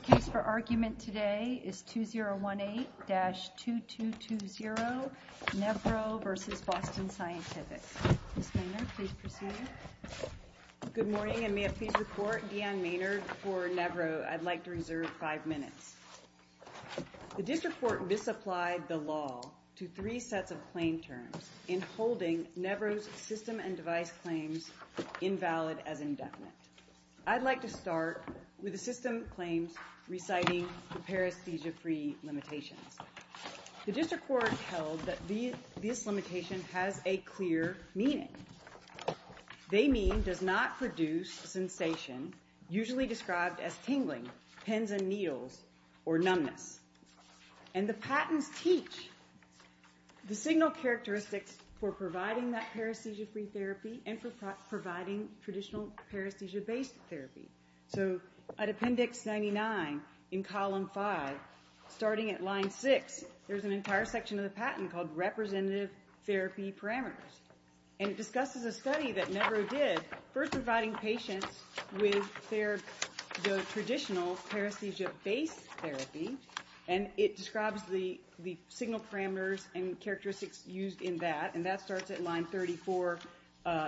The case for argument today is 2018-2220, Nevro v. Boston Scientific. Ms. Maynard, please proceed. Good morning, and may I please report, Deanne Maynard for Nevro. I'd like to reserve five minutes. The district court misapplied the law to three sets of claim terms in holding Nevro's system and device claims invalid as indefinite. I'd like to start with the system claims reciting the paresthesia-free limitations. The district court held that this limitation has a clear meaning. They mean does not produce sensation usually described as tingling, pins and needles, or numbness. And the patents teach the signal characteristics for providing that paresthesia-free therapy and for providing traditional paresthesia-based therapy. So at Appendix 99 in Column 5, starting at Line 6, there's an entire section of the patent called Representative Therapy Parameters. And it discusses a study that Nevro did first providing patients with the traditional paresthesia-based therapy, and it describes the signal parameters and characteristics used in that. And that starts at Line 34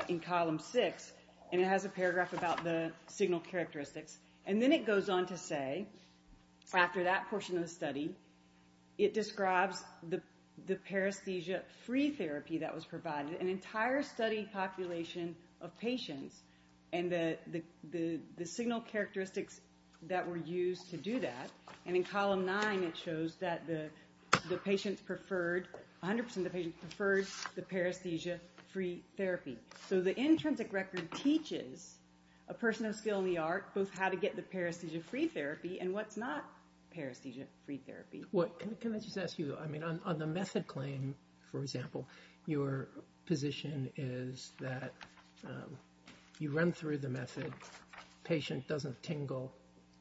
in Column 6. And it has a paragraph about the signal characteristics. And then it goes on to say, after that portion of the study, it describes the paresthesia-free therapy that was provided. An entire study population of patients and the signal characteristics that were used to do that. And in Column 9, it shows that the patients preferred, 100% of the patients preferred the paresthesia-free therapy. So the intrinsic record teaches a person of skill in the art both how to get the paresthesia-free therapy and what's not paresthesia-free therapy. Can I just ask you, I mean, on the method claim, for example, your position is that you run through the method, and if the patient doesn't tingle,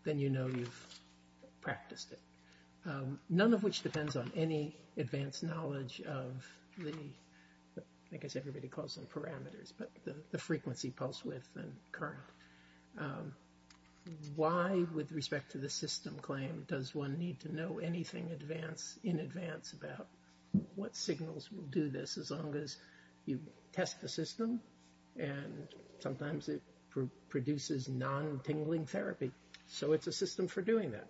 then you know you've practiced it. None of which depends on any advanced knowledge of the, I guess everybody calls them parameters, but the frequency, pulse width, and current. Why, with respect to the system claim, does one need to know anything in advance about what signals will do this as long as you test the system? And sometimes it produces non-tingling therapy. So it's a system for doing that.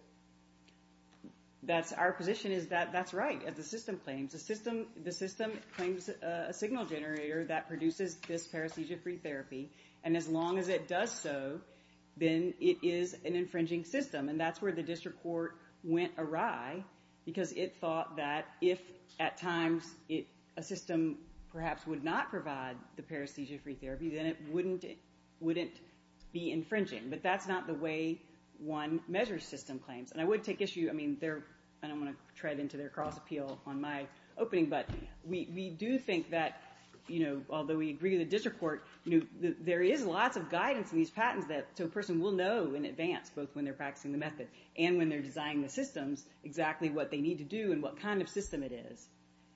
That's our position is that that's right. As the system claims, the system claims a signal generator that produces this paresthesia-free therapy. And as long as it does so, then it is an infringing system. And that's where the district court went awry because it thought that if at times a system perhaps would not provide the paresthesia-free therapy, then it wouldn't be infringing. But that's not the way one measures system claims. And I would take issue, I don't want to tread into their cross-appeal on my opening, but we do think that, although we agree with the district court, there is lots of guidance in these patents that a person will know in advance, both when they're practicing the method and when they're designing the systems, exactly what they need to do and what kind of system it is.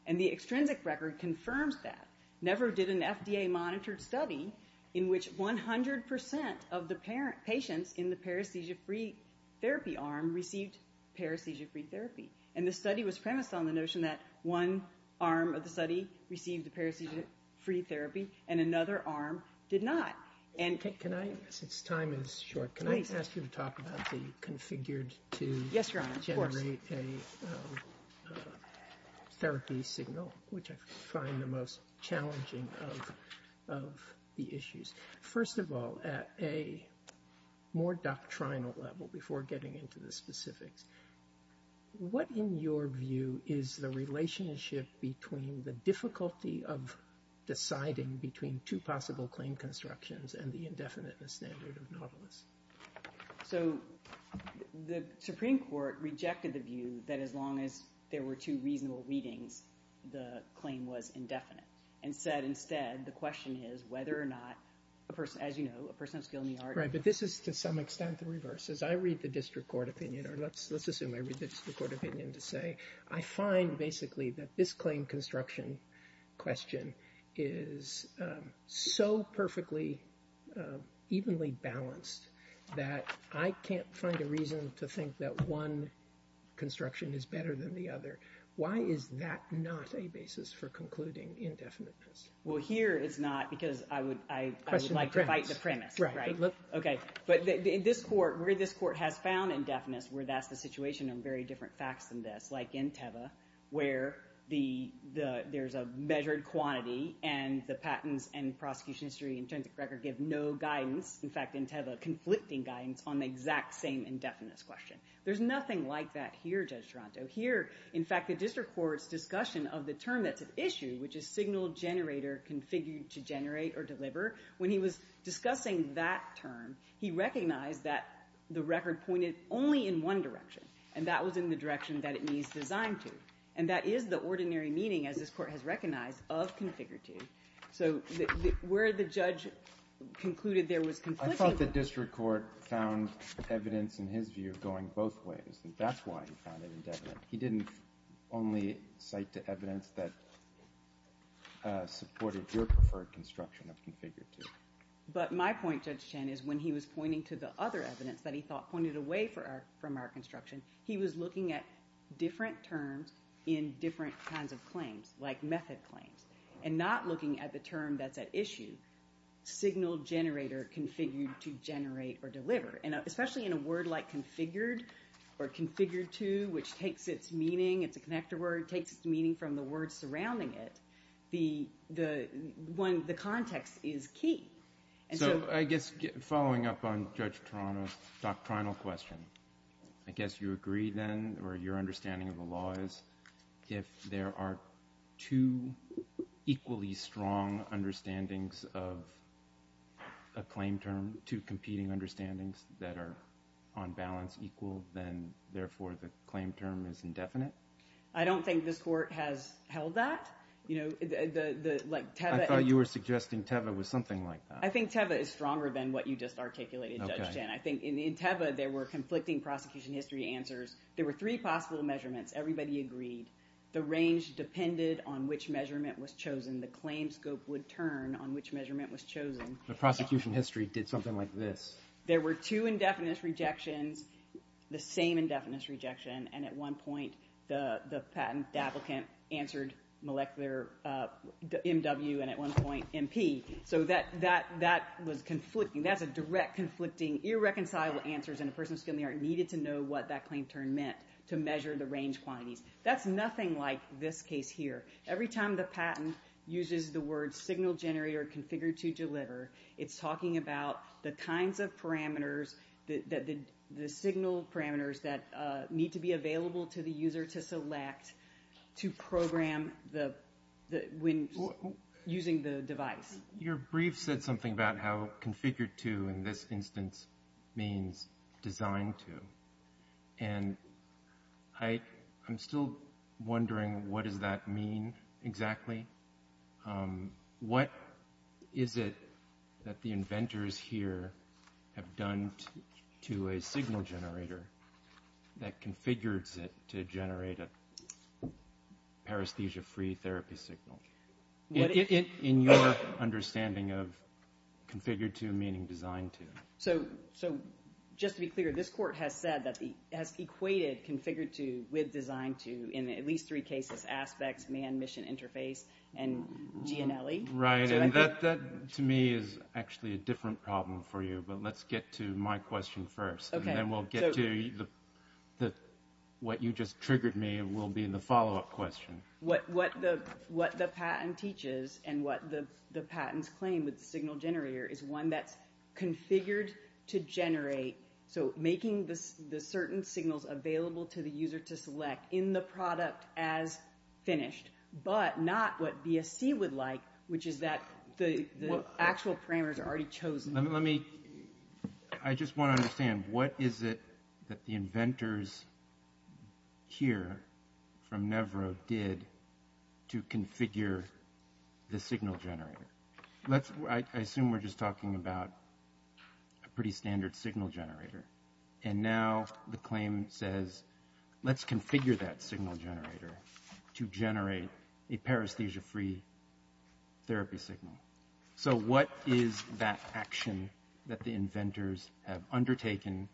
And the extrinsic record confirms that. Never did an FDA-monitored study in which 100% of the patients in the paresthesia-free therapy arm received paresthesia-free therapy. And the study was premised on the notion that one arm of the study received the paresthesia-free therapy and another arm did not. Can I, since time is short, can I ask you to talk about the configured to generate a therapy signal, which I find the most challenging of the issues. First of all, at a more doctrinal level, before getting into the specifics, what, in your view, is the relationship between the difficulty of deciding between two possible claim constructions and the indefinite standard of novelists? So the Supreme Court rejected the view that as long as there were two reasonable readings, the claim was indefinite and said instead the question is whether or not, as you know, a person has skill in the art. Right, but this is to some extent the reverse. As I read the district court opinion, or let's assume I read the district court opinion to say, I find basically that this claim construction question is so perfectly, evenly balanced that I can't find a reason to think that one construction is better than the other. Why is that not a basis for concluding indefiniteness? Well, here it's not because I would like to fight the premise, right? Okay, but in this court, where this court has found indefiniteness, where that's the situation of very different facts than this, like in Teva, where there's a measured quantity and the patents and prosecution history and the intrinsic record give no guidance, in fact, in Teva, conflicting guidance on the exact same indefiniteness question. There's nothing like that here, Judge Toronto. Here, in fact, the district court's discussion of the term that's at issue, which is signal generator configured to generate or deliver, when he was discussing that term, he recognized that the record pointed only in one direction, and that was in the direction that it needs design to. And that is the ordinary meaning, as this court has recognized, of configured to. So where the judge concluded there was conflicting... I thought the district court found evidence, in his view, going both ways, and that's why he found it indefinite. He didn't only cite the evidence that supported your preferred construction of configured to. But my point, Judge Chen, is when he was pointing to the other evidence that he thought pointed away from our construction, he was looking at different terms in different kinds of claims, like method claims, and not looking at the term that's at issue, signal generator configured to generate or deliver. And especially in a word like configured, or configured to, which takes its meaning, it's a connector word, takes its meaning from the word surrounding it, the context is key. So, I guess, following up on Judge Toronto's doctrinal question, I guess you agree then, or your understanding of the law is, if there are two equally strong understandings of a claim term, two competing understandings that are on balance equal, then, therefore, the claim term is indefinite? I don't think this court has held that. I thought you were suggesting Teva was something like that. I think Teva is stronger than what you just articulated, Judge Chen. I think in Teva there were conflicting prosecution history answers. There were three possible measurements. Everybody agreed. The range depended on which measurement was chosen. The claim scope would turn on which measurement was chosen. The prosecution history did something like this. There were two indefinite rejections, the same indefinite rejection, and at one point the patent applicant answered molecular MW, and at one point MP. So that was conflicting. That's a direct, conflicting, irreconcilable answer, and a person of skill in the art needed to know what that claim term meant to measure the range quantities. That's nothing like this case here. Every time the patent uses the words, signal generator configured to deliver, it's talking about the kinds of parameters, the signal parameters that need to be available to the user to select to program when using the device. Your brief said something about how configured to, in this instance, means designed to. And I'm still wondering what does that mean exactly. What is it that the inventors here have done to a signal generator that configures it to generate a paresthesia-free therapy signal? In your understanding of configured to meaning designed to. So just to be clear, this court has said that it has equated configured to with designed to in at least three cases, aspects, man, mission, interface, and GNLE. Right, and that to me is actually a different problem for you, but let's get to my question first, and then we'll get to what you just triggered me will be in the follow-up question. What the patent teaches and what the patents claim with the signal generator is one that's configured to generate, so making the certain signals available to the user to select in the product as finished, but not what BSC would like, which is that the actual parameters are already chosen. Let me, I just want to understand, what is it that the inventors here from never did to configure the signal generator? Let's, I assume we're just talking about a pretty standard signal generator, and now the claim says, let's configure that signal generator to generate a paresthesia-free therapy signal. So what is that action that the inventors have undertaken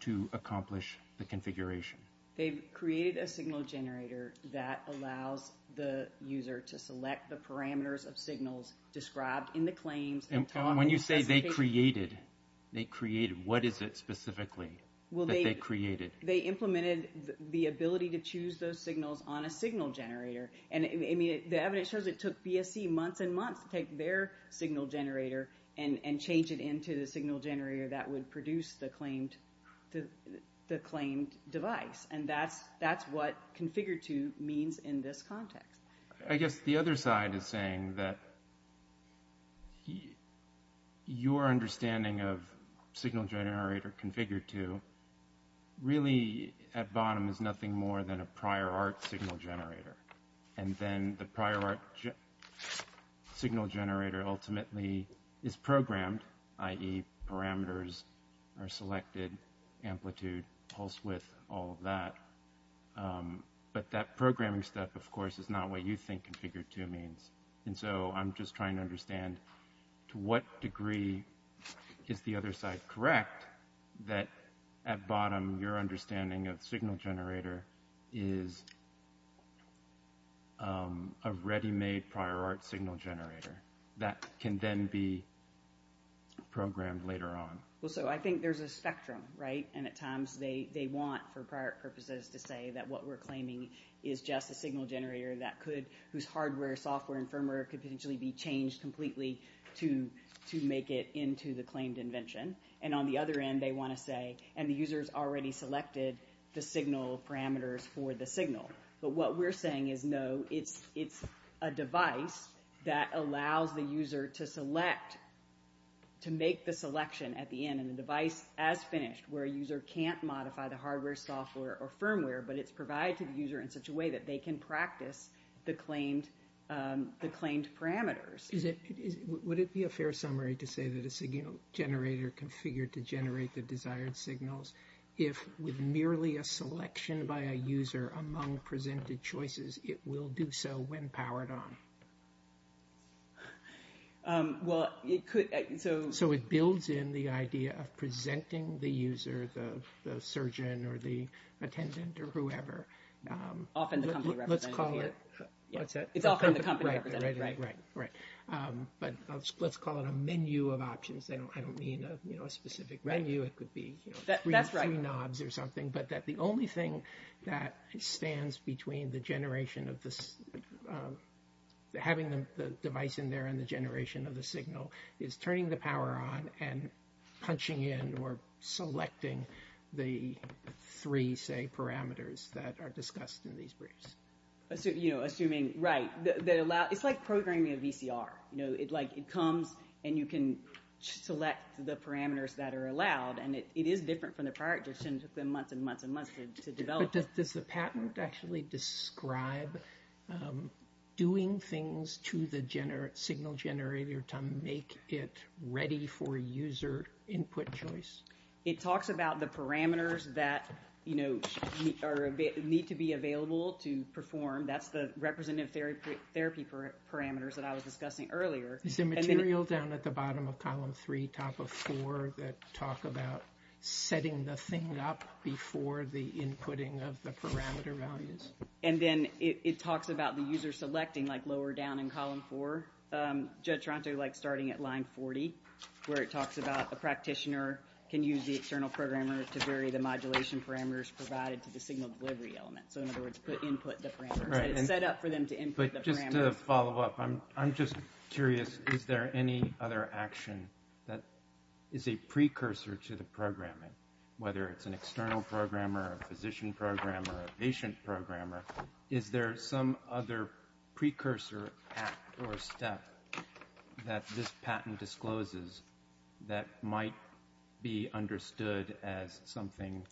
to accomplish the configuration? They've created a signal generator that allows the user to select the parameters of signals described in the claims. And when you say they created, they created, what is it specifically that they created? They implemented the ability to choose those signals on a signal generator, and the evidence shows it took BSC months and months to take their signal generator and change it into the signal generator that would produce the claimed device. And that's what configured to means in this context. I guess the other side is saying that your understanding of signal generator configured to really at bottom is nothing more than a prior art signal generator. And then the prior art signal generator ultimately is programmed, i.e. parameters are selected, amplitude, pulse width, all of that. But that programming step, of course, is not what you think configured to means. And so I'm just trying to understand to what degree is the other side correct that at bottom your understanding of signal generator is a ready-made prior art signal generator that can then be programmed later on? Well, so I think there's a spectrum, right? And at times they want, for prior purposes, to say that what we're claiming is just a signal generator whose hardware, software, and firmware could potentially be changed completely to make it into the claimed invention. And on the other end they want to say, and the user's already selected the signal parameters for the signal. But what we're saying is, no, it's a device that allows the user to select to make the selection at the end and the device as finished where a user can't modify the hardware, software, or firmware, but it's provided to the user in such a way that they can practice the claimed parameters. Would it be a fair summary to say that a signal generator configured to generate the desired signals if with merely a selection by a user among presented choices it will do so when powered on? Well, it could. So it builds in the idea of presenting the user, the surgeon or the attendant or whoever. Often the company representative. Let's call it. It's often the company representative. But let's call it a menu of options. I don't mean a specific menu. It could be three knobs or something. But the only thing that stands between the generation of this, having the device in there and the generation of the signal is turning the power on and punching in or selecting the three, say, parameters that are discussed in these briefs. Assuming, right. It's like programming a VCR. It comes and you can select the parameters that are allowed, and it is different from the prior edition. It took them months and months and months to develop. Does the patent actually describe doing things to the signal generator to make it ready for user input choice? It talks about the parameters that need to be available to perform. That's the representative therapy parameters that I was discussing earlier. Is the material down at the bottom of column three, top of four that talk about setting the thing up before the inputting of the parameter values? And then it talks about the user selecting, like lower down in column four. Judd Tronto likes starting at line 40 where it talks about a practitioner can use the external programmer to vary the modulation parameters provided to the signal delivery element. So, in other words, input the parameters. It's set up for them to input the parameters. But just to follow up, I'm just curious. Is there any other action that is a precursor to the programming, whether it's an external programmer, a physician programmer, a patient programmer? Is there some other precursor act or step that this patent discloses that might be understood as something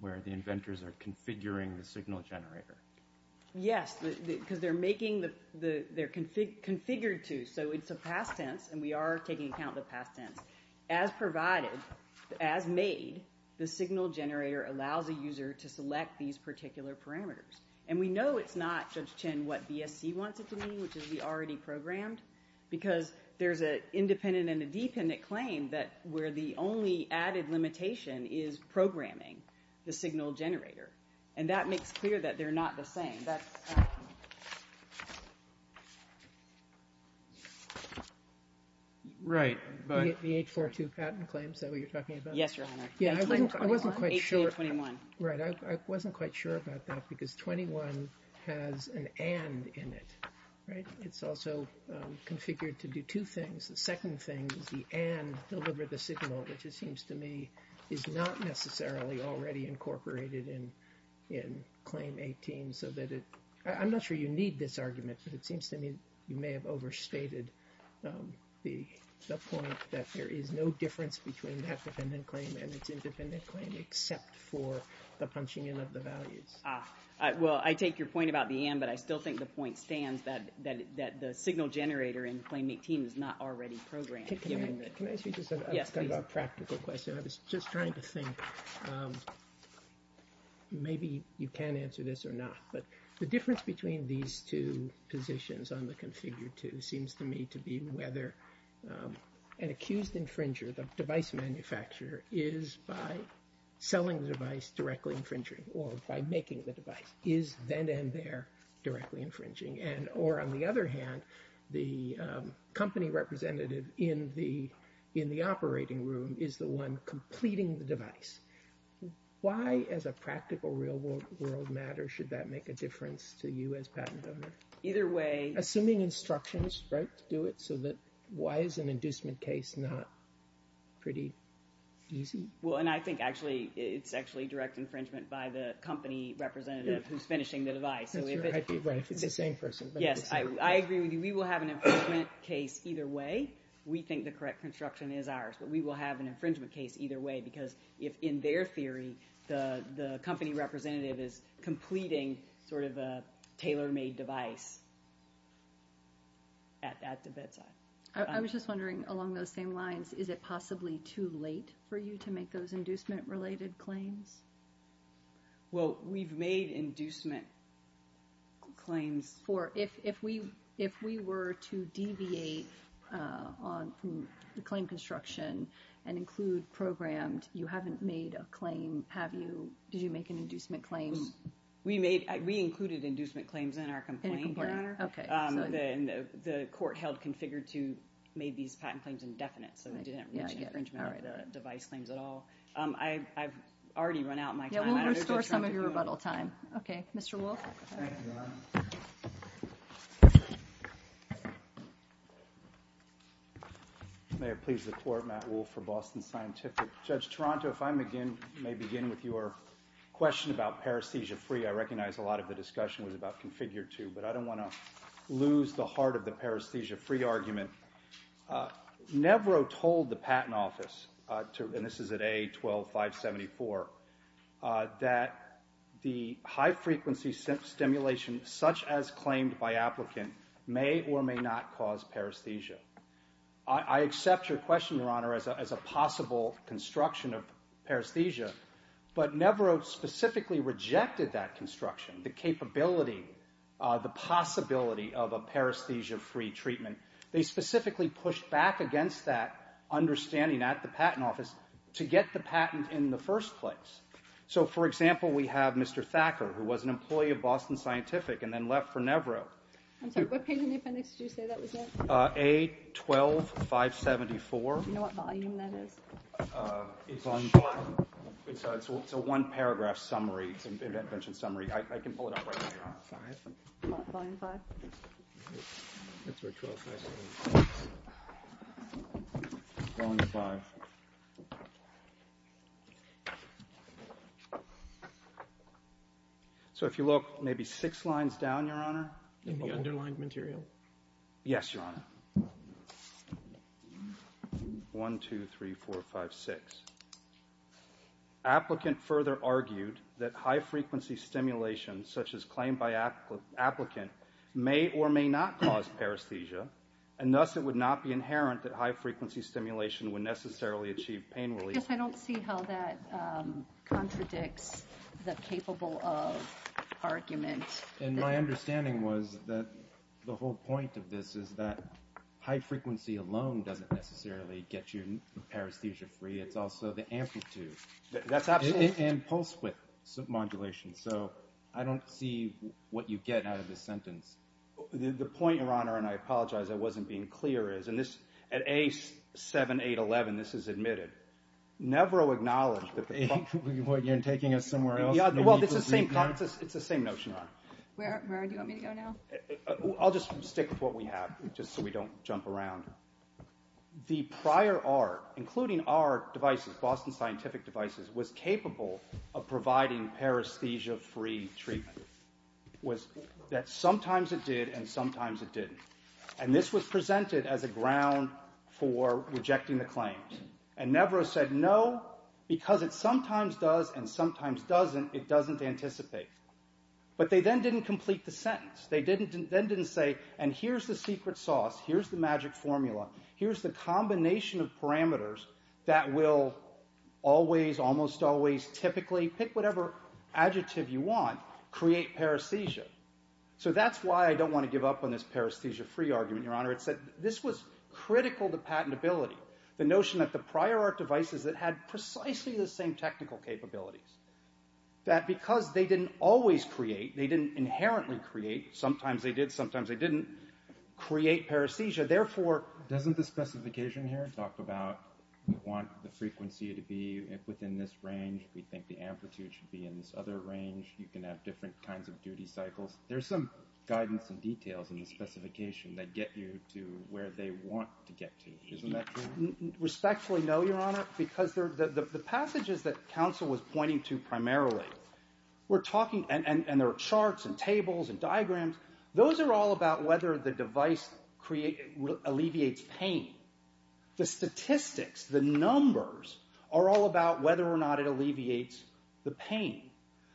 where the inventors are configuring the signal generator? Yes, because they're making the – they're configured to. So it's a past tense, and we are taking account of the past tense. As provided, as made, the signal generator allows a user to select these particular parameters. And we know it's not, Judge Chin, what BSC wants it to be, which is the already programmed, because there's an independent and a dependent claim that where the only added limitation is programming the signal generator. And that makes clear that they're not the same. That's – Right, but – The H42 patent claim, is that what you're talking about? Yes, Your Honor. Yeah, I wasn't quite sure – 1821. Right. I wasn't quite sure about that, because 21 has an and in it, right? It's also configured to do two things. The second thing is the and delivered the signal, which it seems to me is not necessarily already incorporated in Claim 18, so that it – I'm not sure you need this argument, but it seems to me you may have overstated the point that there is no difference between that dependent claim and its independent claim, except for the punching in of the values. Well, I take your point about the and, but I still think the point stands that the signal generator in Claim 18 is not already programmed. Can I ask you just a practical question? I was just trying to think. Maybe you can answer this or not, but the difference between these two positions on the Configure 2 seems to me to be whether an accused infringer, the device manufacturer, is by selling the device directly infringing or by making the device, is then and there directly infringing. Or on the other hand, the company representative in the operating room is the one completing the device. Why, as a practical real-world matter, should that make a difference to you as patent owner? Either way. Assuming instructions, right, to do it, so that why is an inducement case not pretty easy? Well, and I think actually it's actually direct infringement by the company representative who's finishing the device. Right. It's the same person. Yes, I agree with you. We will have an infringement case either way. We think the correct construction is ours, but we will have an infringement case either way because if in their theory the company representative is completing sort of a tailor-made device at the bedside. I was just wondering along those same lines, is it possibly too late for you to make those inducement-related claims? Well, we've made inducement claims. If we were to deviate on the claim construction and include programmed, you haven't made a claim, have you? Did you make an inducement claim? We included inducement claims in our complaint, Your Honor. Okay. The court held configured to make these patent claims indefinite, so they didn't reach infringement device claims at all. I've already run out of my time. Yeah, we'll restore some of your rebuttal time. Okay. Mr. Wolfe. Thank you, Your Honor. May it please the Court, Matt Wolfe for Boston Scientific. Judge Toronto, if I may begin with your question about paresthesia-free, I recognize a lot of the discussion was about configured to, but I don't want to lose the heart of the paresthesia-free argument. Nevro told the patent office, and this is at A12574, that the high-frequency stimulation such as claimed by applicant may or may not cause paresthesia. I accept your question, Your Honor, as a possible construction of paresthesia, but Nevro specifically rejected that construction, the capability, the possibility of a paresthesia-free treatment. They specifically pushed back against that understanding at the patent office to get the patent in the first place. So, for example, we have Mr. Thacker, who was an employee of Boston Scientific and then left for Nevro. I'm sorry, what page in the appendix did you say that was at? A12574. Do you know what volume that is? It's a one-paragraph summary, it's an invention summary. I can pull it up right now, Your Honor. Volume five. That's where 12574 is. Volume five. So if you look maybe six lines down, Your Honor. In the underlined material? Yes, Your Honor. One, two, three, four, five, six. Applicant further argued that high-frequency stimulation such as claimed by applicant may or may not cause paresthesia, and thus it would not be inherent that high-frequency stimulation would necessarily achieve pain relief. I guess I don't see how that contradicts the capable of argument. And my understanding was that the whole point of this is that high-frequency alone doesn't necessarily get you paresthesia-free. It's also the amplitude and pulse width submodulation. So I don't see what you get out of this sentence. The point, Your Honor, and I apologize, I wasn't being clear, is at A7811 this is admitted. Nevro acknowledged that the problem. You're taking us somewhere else? It's the same notion, Your Honor. Where do you want me to go now? I'll just stick with what we have just so we don't jump around. The prior art, including our devices, Boston Scientific devices, was capable of providing paresthesia-free treatment. That sometimes it did and sometimes it didn't. And this was presented as a ground for rejecting the claims. And Nevro said no, because it sometimes does and sometimes doesn't, it doesn't anticipate. But they then didn't complete the sentence. They then didn't say, and here's the secret sauce, here's the magic formula, here's the combination of parameters that will always, almost always, typically, pick whatever adjective you want, create paresthesia. So that's why I don't want to give up on this paresthesia-free argument, Your Honor. It's that this was critical to patentability, the notion that the prior art devices that had precisely the same technical capabilities, that because they didn't always create, they didn't inherently create, sometimes they did, sometimes they didn't, create paresthesia. So therefore... Doesn't the specification here talk about, we want the frequency to be within this range, we think the amplitude should be in this other range, you can have different kinds of duty cycles? There's some guidance and details in the specification that get you to where they want to get to. Isn't that true? Respectfully, no, Your Honor, because the passages that counsel was pointing to primarily, we're talking, and there are charts and tables and diagrams, those are all about whether the device alleviates pain. The statistics, the numbers, are all about whether or not it alleviates the pain.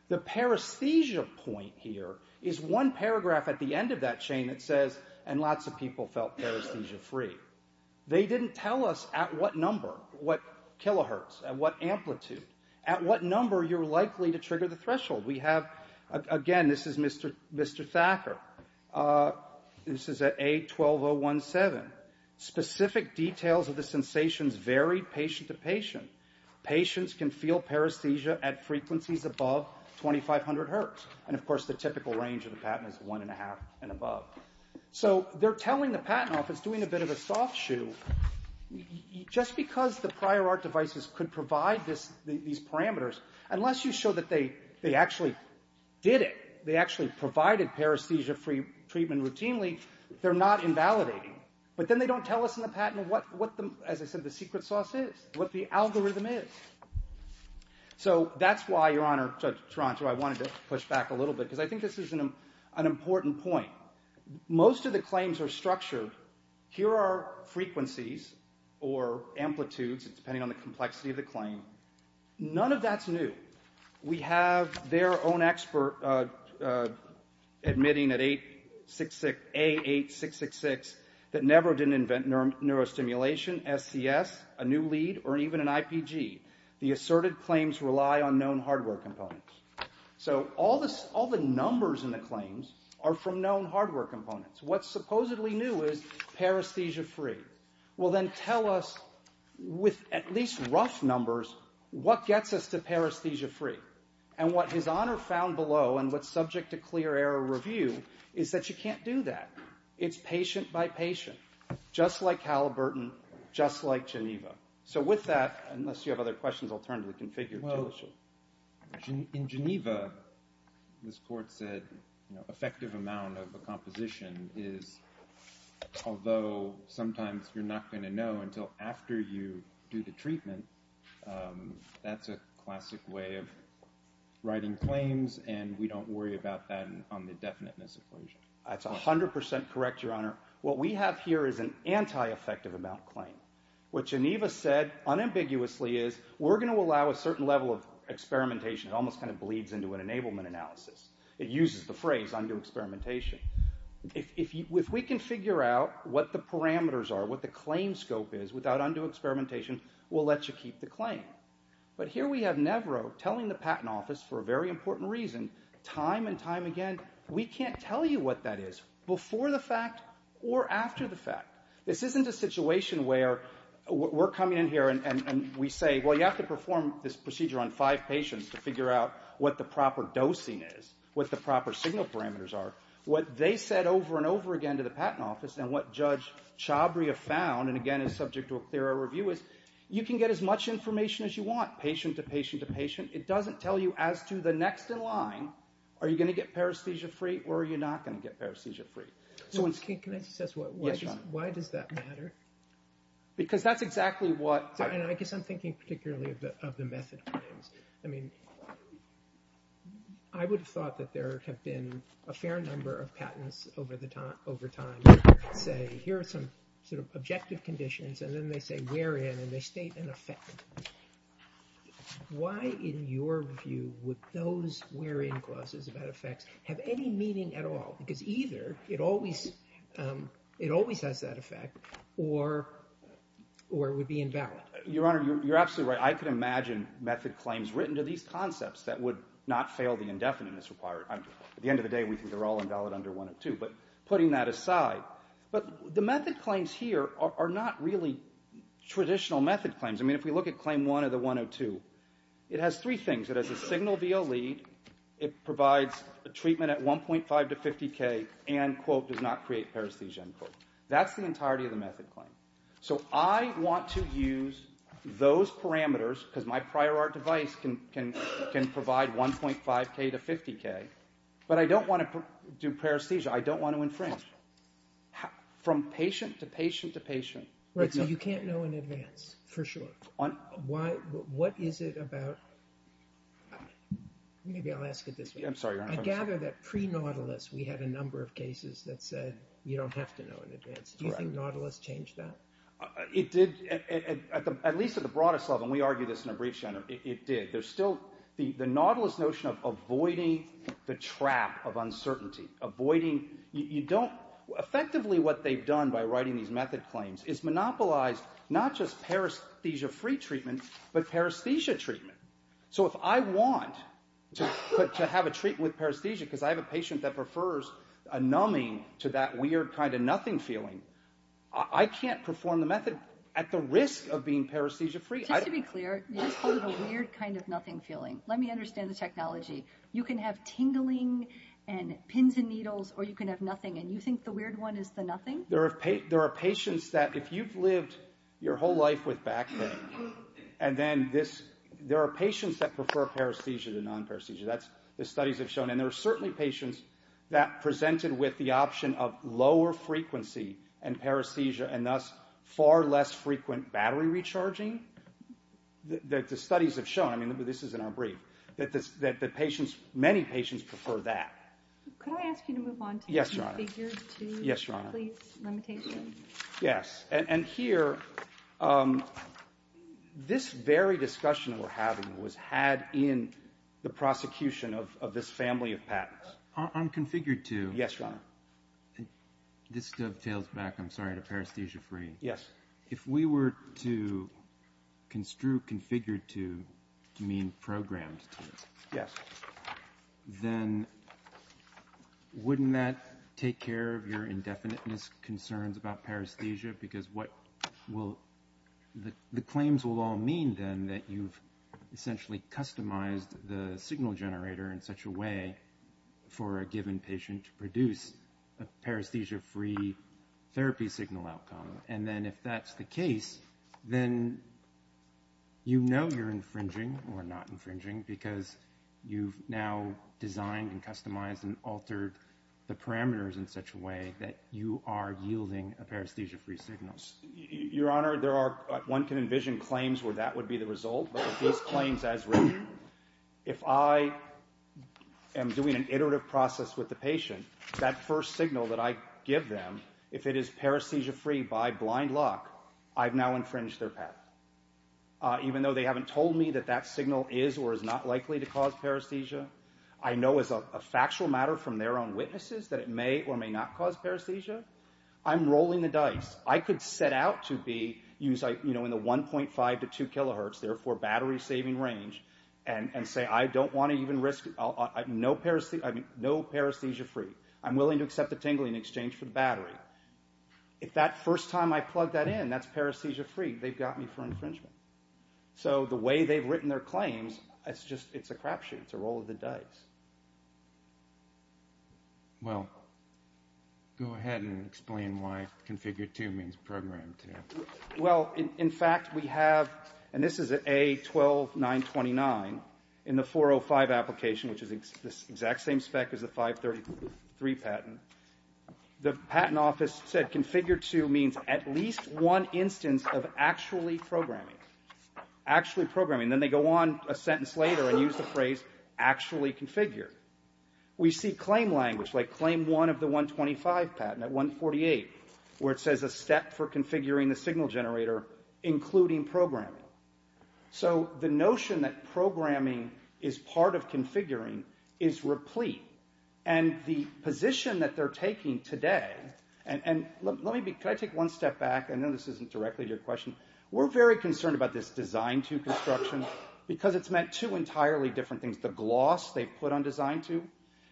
The paresthesia point here is one paragraph at the end of that chain that says, and lots of people felt paresthesia-free. They didn't tell us at what number, what kilohertz, at what amplitude, at what number you're likely to trigger the threshold. We have, again, this is Mr. Thacker. This is at A12017. Specific details of the sensations vary patient to patient. Patients can feel paresthesia at frequencies above 2,500 hertz. And, of course, the typical range of the patent is 1.5 and above. So they're telling the patent office, doing a bit of a soft shoe, just because the prior art devices could provide these parameters, unless you show that they actually did it, they actually provided paresthesia-free treatment routinely, they're not invalidating. But then they don't tell us in the patent what, as I said, the secret sauce is, what the algorithm is. So that's why, Your Honour, Judge Taranto, I wanted to push back a little bit, because I think this is an important point. Most of the claims are structured. Here are frequencies or amplitudes, depending on the complexity of the claim. None of that's new. We have their own expert admitting at A8666 that never did invent neurostimulation, SCS, a new lead, or even an IPG. The asserted claims rely on known hardware components. So all the numbers in the claims are from known hardware components. What's supposedly new is paresthesia-free. Well, then tell us, with at least rough numbers, what gets us to paresthesia-free. And what His Honour found below, and what's subject to clear error review, is that you can't do that. It's patient by patient. Just like Halliburton, just like Geneva. So with that, unless you have other questions, I'll turn to the configured tool sheet. In Geneva, this Court said, effective amount of the composition is, although sometimes you're not going to know until after you do the treatment, that's a classic way of writing claims, and we don't worry about that on the definiteness equation. That's 100% correct, Your Honour. What we have here is an anti-effective amount claim. What Geneva said unambiguously is, we're going to allow a certain level of experimentation. It almost kind of bleeds into an enablement analysis. It uses the phrase, undo experimentation. If we can figure out what the parameters are, what the claim scope is, without undue experimentation, we'll let you keep the claim. But here we have Nevro telling the Patent Office, for a very important reason, time and time again, we can't tell you what that is, before the fact or after the fact. This isn't a situation where we're coming in here and we say, well, you have to perform this procedure on five patients to figure out what the proper dosing is, what the proper signal parameters are, what they said over and over again to the Patent Office, and what Judge Chabria found, and again is subject to a clearer review, is you can get as much information as you want, patient to patient to patient. It doesn't tell you as to the next in line, are you going to get paresthesia free or are you not going to get paresthesia free. Can I just ask, why does that matter? Because that's exactly what... I guess I'm thinking particularly of the method claims. I mean, I would have thought that there have been a fair number of patents over time that say here are some sort of objective conditions and then they say we're in and they state an effect. Why, in your view, would those we're in clauses about effects have any meaning at all? Because either it always has that effect or it would be invalid. Your Honor, you're absolutely right. I could imagine method claims written to these concepts that would not fail the indefiniteness required. At the end of the day, we think they're all invalid under 102, but putting that aside. But the method claims here are not really traditional method claims. I mean, if we look at Claim 1 of the 102, it has three things. It has a signal VO lead, it provides a treatment at 1.5 to 50K, and, quote, does not create paresthesia, end quote. That's the entirety of the method claim. So I want to use those parameters, because my prior art device can provide 1.5K to 50K, but I don't want to do paresthesia. I don't want to infringe. From patient to patient to patient. Right, so you can't know in advance, for sure. What is it about... Maybe I'll ask it this way. I'm sorry, Your Honor. I gather that pre-Nautilus we had a number of cases that said you don't have to know in advance. Do you think Nautilus changed that? It did, at least at the broadest level. And we argued this in a brief, Your Honor. It did. There's still the Nautilus notion of avoiding the trap of uncertainty. Avoiding... Effectively, what they've done by writing these method claims is monopolize not just paresthesia-free treatment, but paresthesia treatment. So if I want to have a treatment with paresthesia, because I have a patient that prefers a numbing to that weird kind of nothing feeling, I can't perform the method at the risk of being paresthesia-free. Just to be clear, you just called it a weird kind of nothing feeling. Let me understand the technology. You can have tingling and pins and needles, or you can have nothing, and you think the weird one is the nothing? There are patients that, if you've lived your whole life with back pain, and then this... There are patients that prefer paresthesia to non-paresthesia. The studies have shown. And there are certainly patients that presented with the option of lower frequency and paresthesia and thus far less frequent battery recharging. The studies have shown. I mean, this is in our brief. That patients, many patients, prefer that. Could I ask you to move on to... Yes, Your Honor. Yes, Your Honor. And here, this very discussion we're having was had in the prosecution of this family of patents. On configured to... Yes, Your Honor. This dovetails back, I'm sorry, to paresthesia-free. Yes. If we were to construe configured to mean programmed to, then wouldn't that take care of your indefiniteness concerns about paresthesia? Because what will... The claims will all mean then that you've essentially customized the signal generator in such a way for a given patient to produce a paresthesia-free therapy signal outcome. And then if that's the case, then you know you're infringing or not infringing because you've now designed and customized and altered the parameters in such a way that you are yielding a paresthesia-free signal. Your Honor, there are... One can envision claims where that would be the result, but with these claims as written, if I am doing an iterative process with the patient, that first signal that I give them, if it is paresthesia-free by blind luck, I've now infringed their patent. Even though they haven't told me that that signal is or is not likely to cause paresthesia, I know as a factual matter from their own witnesses that it may or may not cause paresthesia. I'm rolling the dice. I could set out to be in the 1.5 to 2 kilohertz, therefore battery-saving range, and say I don't want to even risk... No paresthesia-free. I'm willing to accept the tingling in exchange for the battery. If that first time I plug that in, that's paresthesia-free, they've got me for infringement. So the way they've written their claims, it's a crap shoot. It's a roll of the dice. Well, go ahead and explain why configure 2 means program 2. Well, in fact, we have, and this is at A12929, in the 405 application, which is the exact same spec as the 533 patent, the patent office said configure 2 means at least one instance of actually programming. Actually programming. Then they go on a sentence later and use the phrase actually configure. We see claim language, like claim 1 of the 125 patent at 148, where it says a step for configuring the signal generator, including programming. So the notion that programming is part of configuring is replete. And the position that they're taking today... And let me be... Can I take one step back? I know this isn't directly to your question. We're very concerned about this design 2 construction because it's meant two entirely different things. The gloss they put on design 2,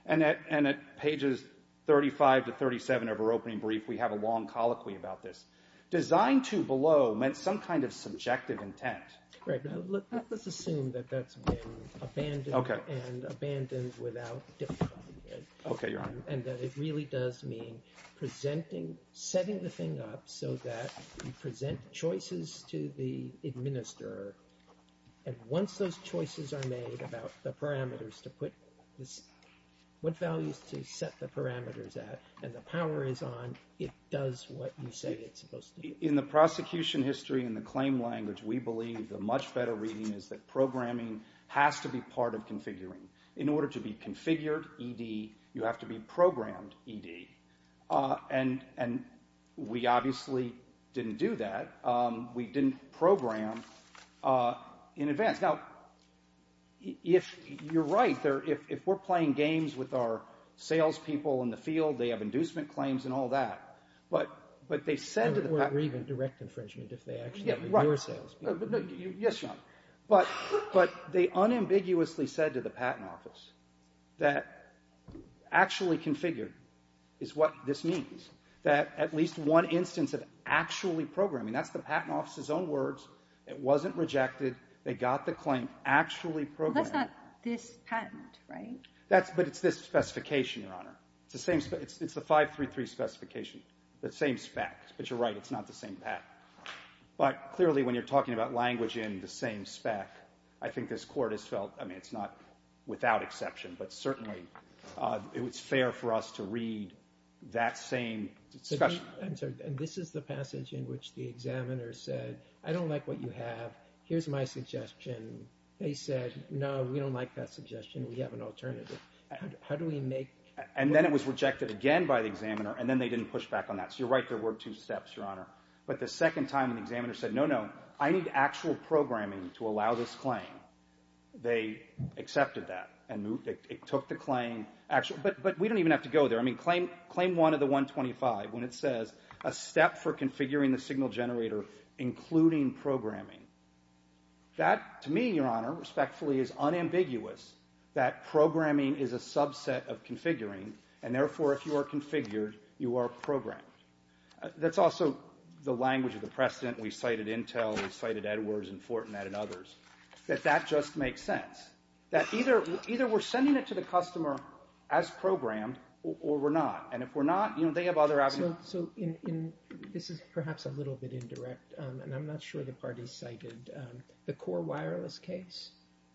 and at pages 35 to 37 of our opening brief, we have a long colloquy about this. Design 2 below meant some kind of subjective intent. Right. Now, let's assume that that's been abandoned and abandoned without difficulty. And that it really does mean presenting, setting the thing up so that you present choices to the administrator. And once those choices are made about the parameters to put... what values to set the parameters at, and the power is on, it does what you say it's supposed to do. In the prosecution history, in the claim language, we believe the much better reading is that programming has to be part of configuring. In order to be configured, ED, you have to be programmed, ED. And we obviously didn't do that. We didn't program in advance. Now, you're right. If we're playing games with our salespeople in the field, they have inducement claims and all that, but they said to the patent... Or even direct infringement if they actually are your salespeople. Yes, but they unambiguously said to the patent office that actually configured is what this means. That at least one instance of actually programming, I mean, that's the patent office's own words. It wasn't rejected. They got the claim actually programmed. That's not this patent, right? But it's this specification, Your Honor. It's the 533 specification, the same spec. But you're right, it's not the same spec. But clearly when you're talking about language in the same spec, I think this Court has felt... I mean, it's not without exception, but certainly it's fair for us to read that same discussion. And this is the passage in which the examiner said, I don't like what you have. Here's my suggestion. They said, no, we don't like that suggestion. We have an alternative. How do we make... And then it was rejected again by the examiner, and then they didn't push back on that. So you're right, there were two steps, Your Honor. But the second time the examiner said, no, no, I need actual programming to allow this claim. They accepted that and took the claim. But we don't even have to go there. I mean, claim 1 of the 125, when it says, a step for configuring the signal generator, including programming. That, to me, Your Honor, respectfully, is unambiguous, that programming is a subset of configuring, and therefore if you are configured, you are programmed. That's also the language of the precedent. We cited Intel, we cited Edwards and Fortinet and others, that that just makes sense, that either we're sending it to the customer as programmed or we're not. And if we're not, they have other avenues. So this is perhaps a little bit indirect, and I'm not sure the parties cited the Core Wireless case.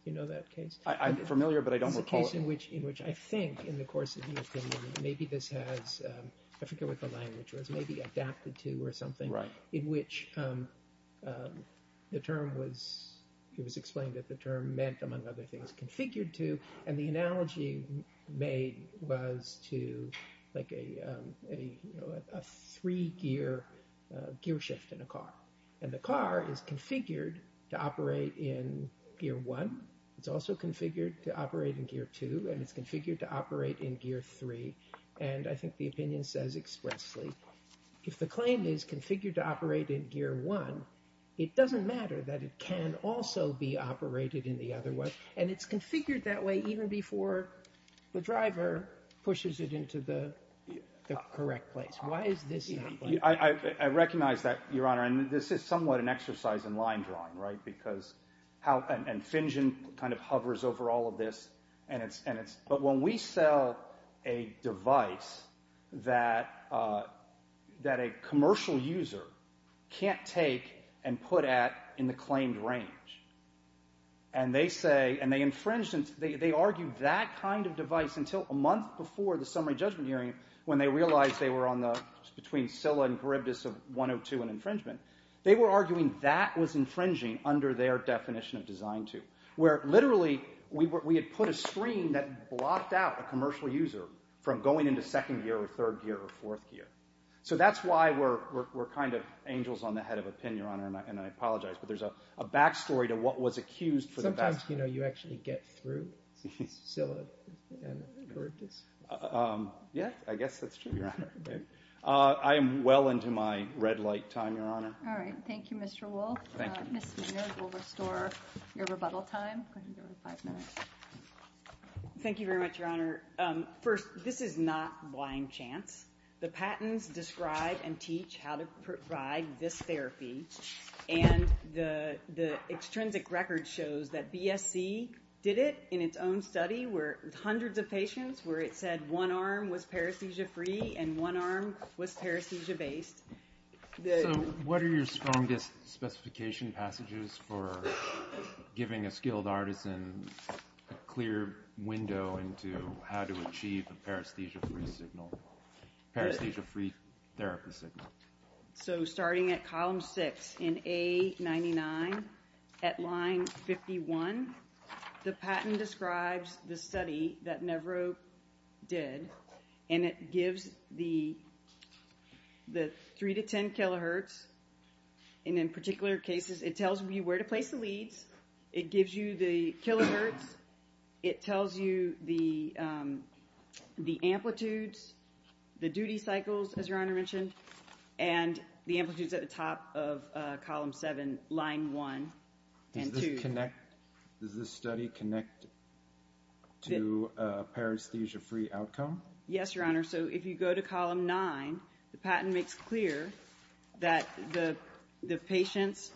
You know that case? I'm familiar, but I don't recall it. It's a case in which I think, in the course of your opinion, maybe this has, I forget what the language was, maybe adapted to or something, in which the term was, it was explained that the term meant, among other things, configured to, and the analogy made was to, like, a three-gear gearshift in a car. And the car is configured to operate in gear one. It's also configured to operate in gear two, and it's configured to operate in gear three. And I think the opinion says expressly, if the claim is configured to operate in gear one, it doesn't matter that it can also be operated in the other one, and it's configured that way even before the driver pushes it into the correct place. Why is this not like that? I recognize that, Your Honor, and this is somewhat an exercise in line drawing, right, because how, and Finjen kind of hovers over all of this, and it's, but when we sell a device that a commercial user can't take and put at in the claimed range, and they say, and they infringe, they argue that kind of device until a month before the summary judgment hearing when they realized they were on the, between Scilla and Charybdis of 102 and infringement. They were arguing that was infringing under their definition of design two, where literally we had put a screen that blocked out a commercial user from going into second gear or third gear or fourth gear. So that's why we're kind of angels on the head of a pin, Your Honor, and I apologize, but there's a back story to what was accused for the back story. Sometimes, you know, you actually get through Scilla and Charybdis. Yeah, I guess that's true, Your Honor. I am well into my red light time, Your Honor. All right, thank you, Mr. Wolfe. Ms. Maynard will restore your rebuttal time. Go ahead and give her five minutes. Thank you very much, Your Honor. First, this is not blind chance. The patents describe and teach how to provide this therapy, and the extrinsic record shows that BSC did it in its own study where hundreds of patients where it said one arm was paresthesia-free and one arm was paresthesia-based. So what are your strongest specification passages for giving a skilled artisan a clear window into how to achieve a paresthesia-free therapy signal? So starting at column 6 in A99 at line 51, the patent describes the study that Nevro did, and it gives the 3 to 10 kilohertz, and in particular cases, it tells you where to place the leads. It gives you the kilohertz. It tells you the amplitudes, the duty cycles, as Your Honor mentioned, and the amplitudes at the top of column 7, line 1 and 2. Does this study connect to a paresthesia-free outcome? Yes, Your Honor. So if you go to column 9, the patent makes clear that the patients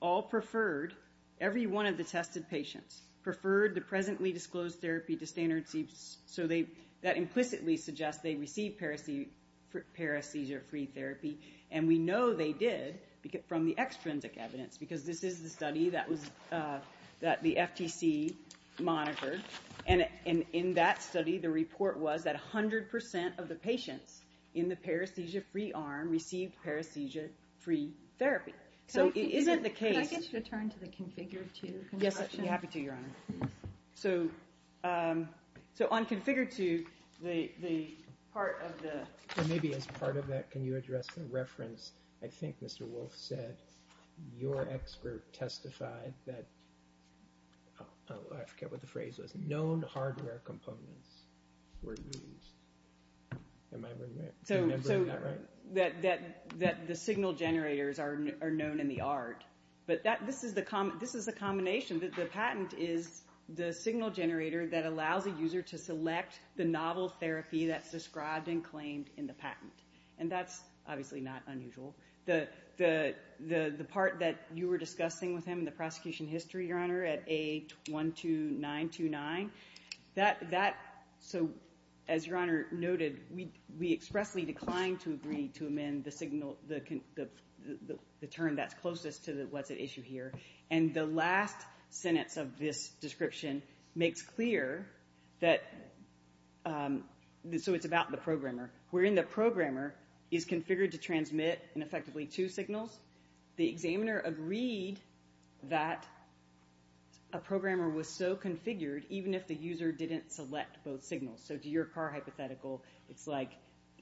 all preferred, every one of the tested patients preferred the presently disclosed therapy to standard C, so that implicitly suggests they received paresthesia-free therapy, and we know they did from the extrinsic evidence because this is the study that the FTC monitored, and in that study, the report was that 100% of the patients in the paresthesia-free arm received paresthesia-free therapy. So it isn't the case. Can I get you to turn to the Configure 2 construction? Yes, I'd be happy to, Your Honor. So on Configure 2, the part of the... Maybe as part of that, can you address the reference, I think Mr. Wolf said, your expert testified that, I forget what the phrase was, known hardware components were used. Am I remembering that right? So that the signal generators are known in the art, but this is the combination, that the patent is the signal generator that allows a user to select the novel therapy that's described and claimed in the patent, and that's obviously not unusual. The part that you were discussing with him in the prosecution history, Your Honor, at A12929, that... So as Your Honor noted, we expressly declined to agree to amend the term that's closest to what's at issue here, and the last sentence of this description makes clear that... So it's about the programmer. Wherein the programmer is configured to transmit, and effectively, two signals, the examiner agreed that a programmer was so configured, even if the user didn't select both signals. So to your car hypothetical, it's like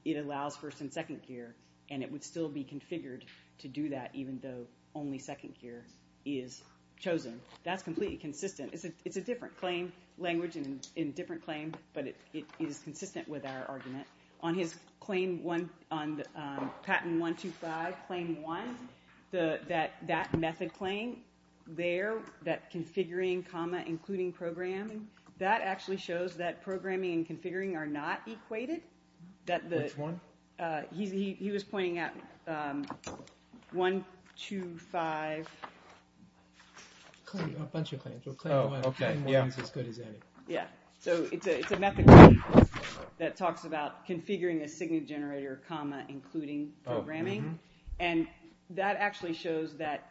it allows first and second gear, and it would still be configured to do that, even though only second gear is chosen. That's completely consistent. It's a different claim language and different claim, but it is consistent with our argument. On his claim on patent 125, claim one, that that method claim there, that configuring, comma, including programming, that actually shows that programming and configuring are not equated. Which one? He was pointing at 125... A bunch of claims. Oh, okay, yeah. So it's a method claim that talks about configuring a signal generator, comma, including programming, and that actually shows that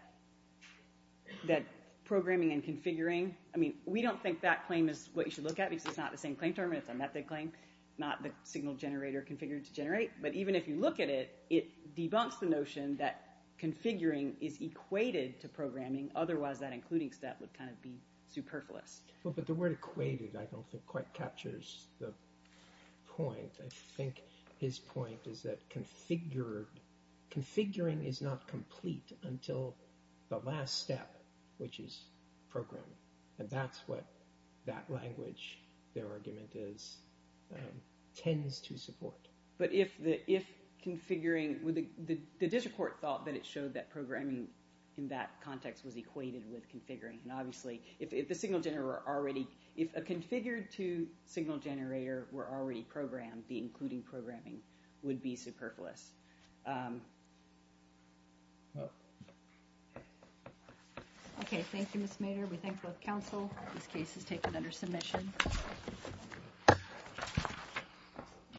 programming and configuring... I mean, we don't think that claim is what you should look at, because it's not the same claim term, it's a method claim, not the signal generator configured to generate, but even if you look at it, it debunks the notion that configuring is equated to programming, otherwise that including step would kind of be superfluous. Well, but the word equated I don't think quite captures the point. I think his point is that configuring is not complete until the last step, which is programming. And that's what that language, their argument is, tends to support. But if configuring... The district court thought that it showed that programming in that context was equated with configuring, and obviously if the signal generator were already... If a configured to signal generator were already programmed, the including programming would be superfluous. Okay, thank you, Ms. Mayer. We thank both counsel. This case is taken under submission.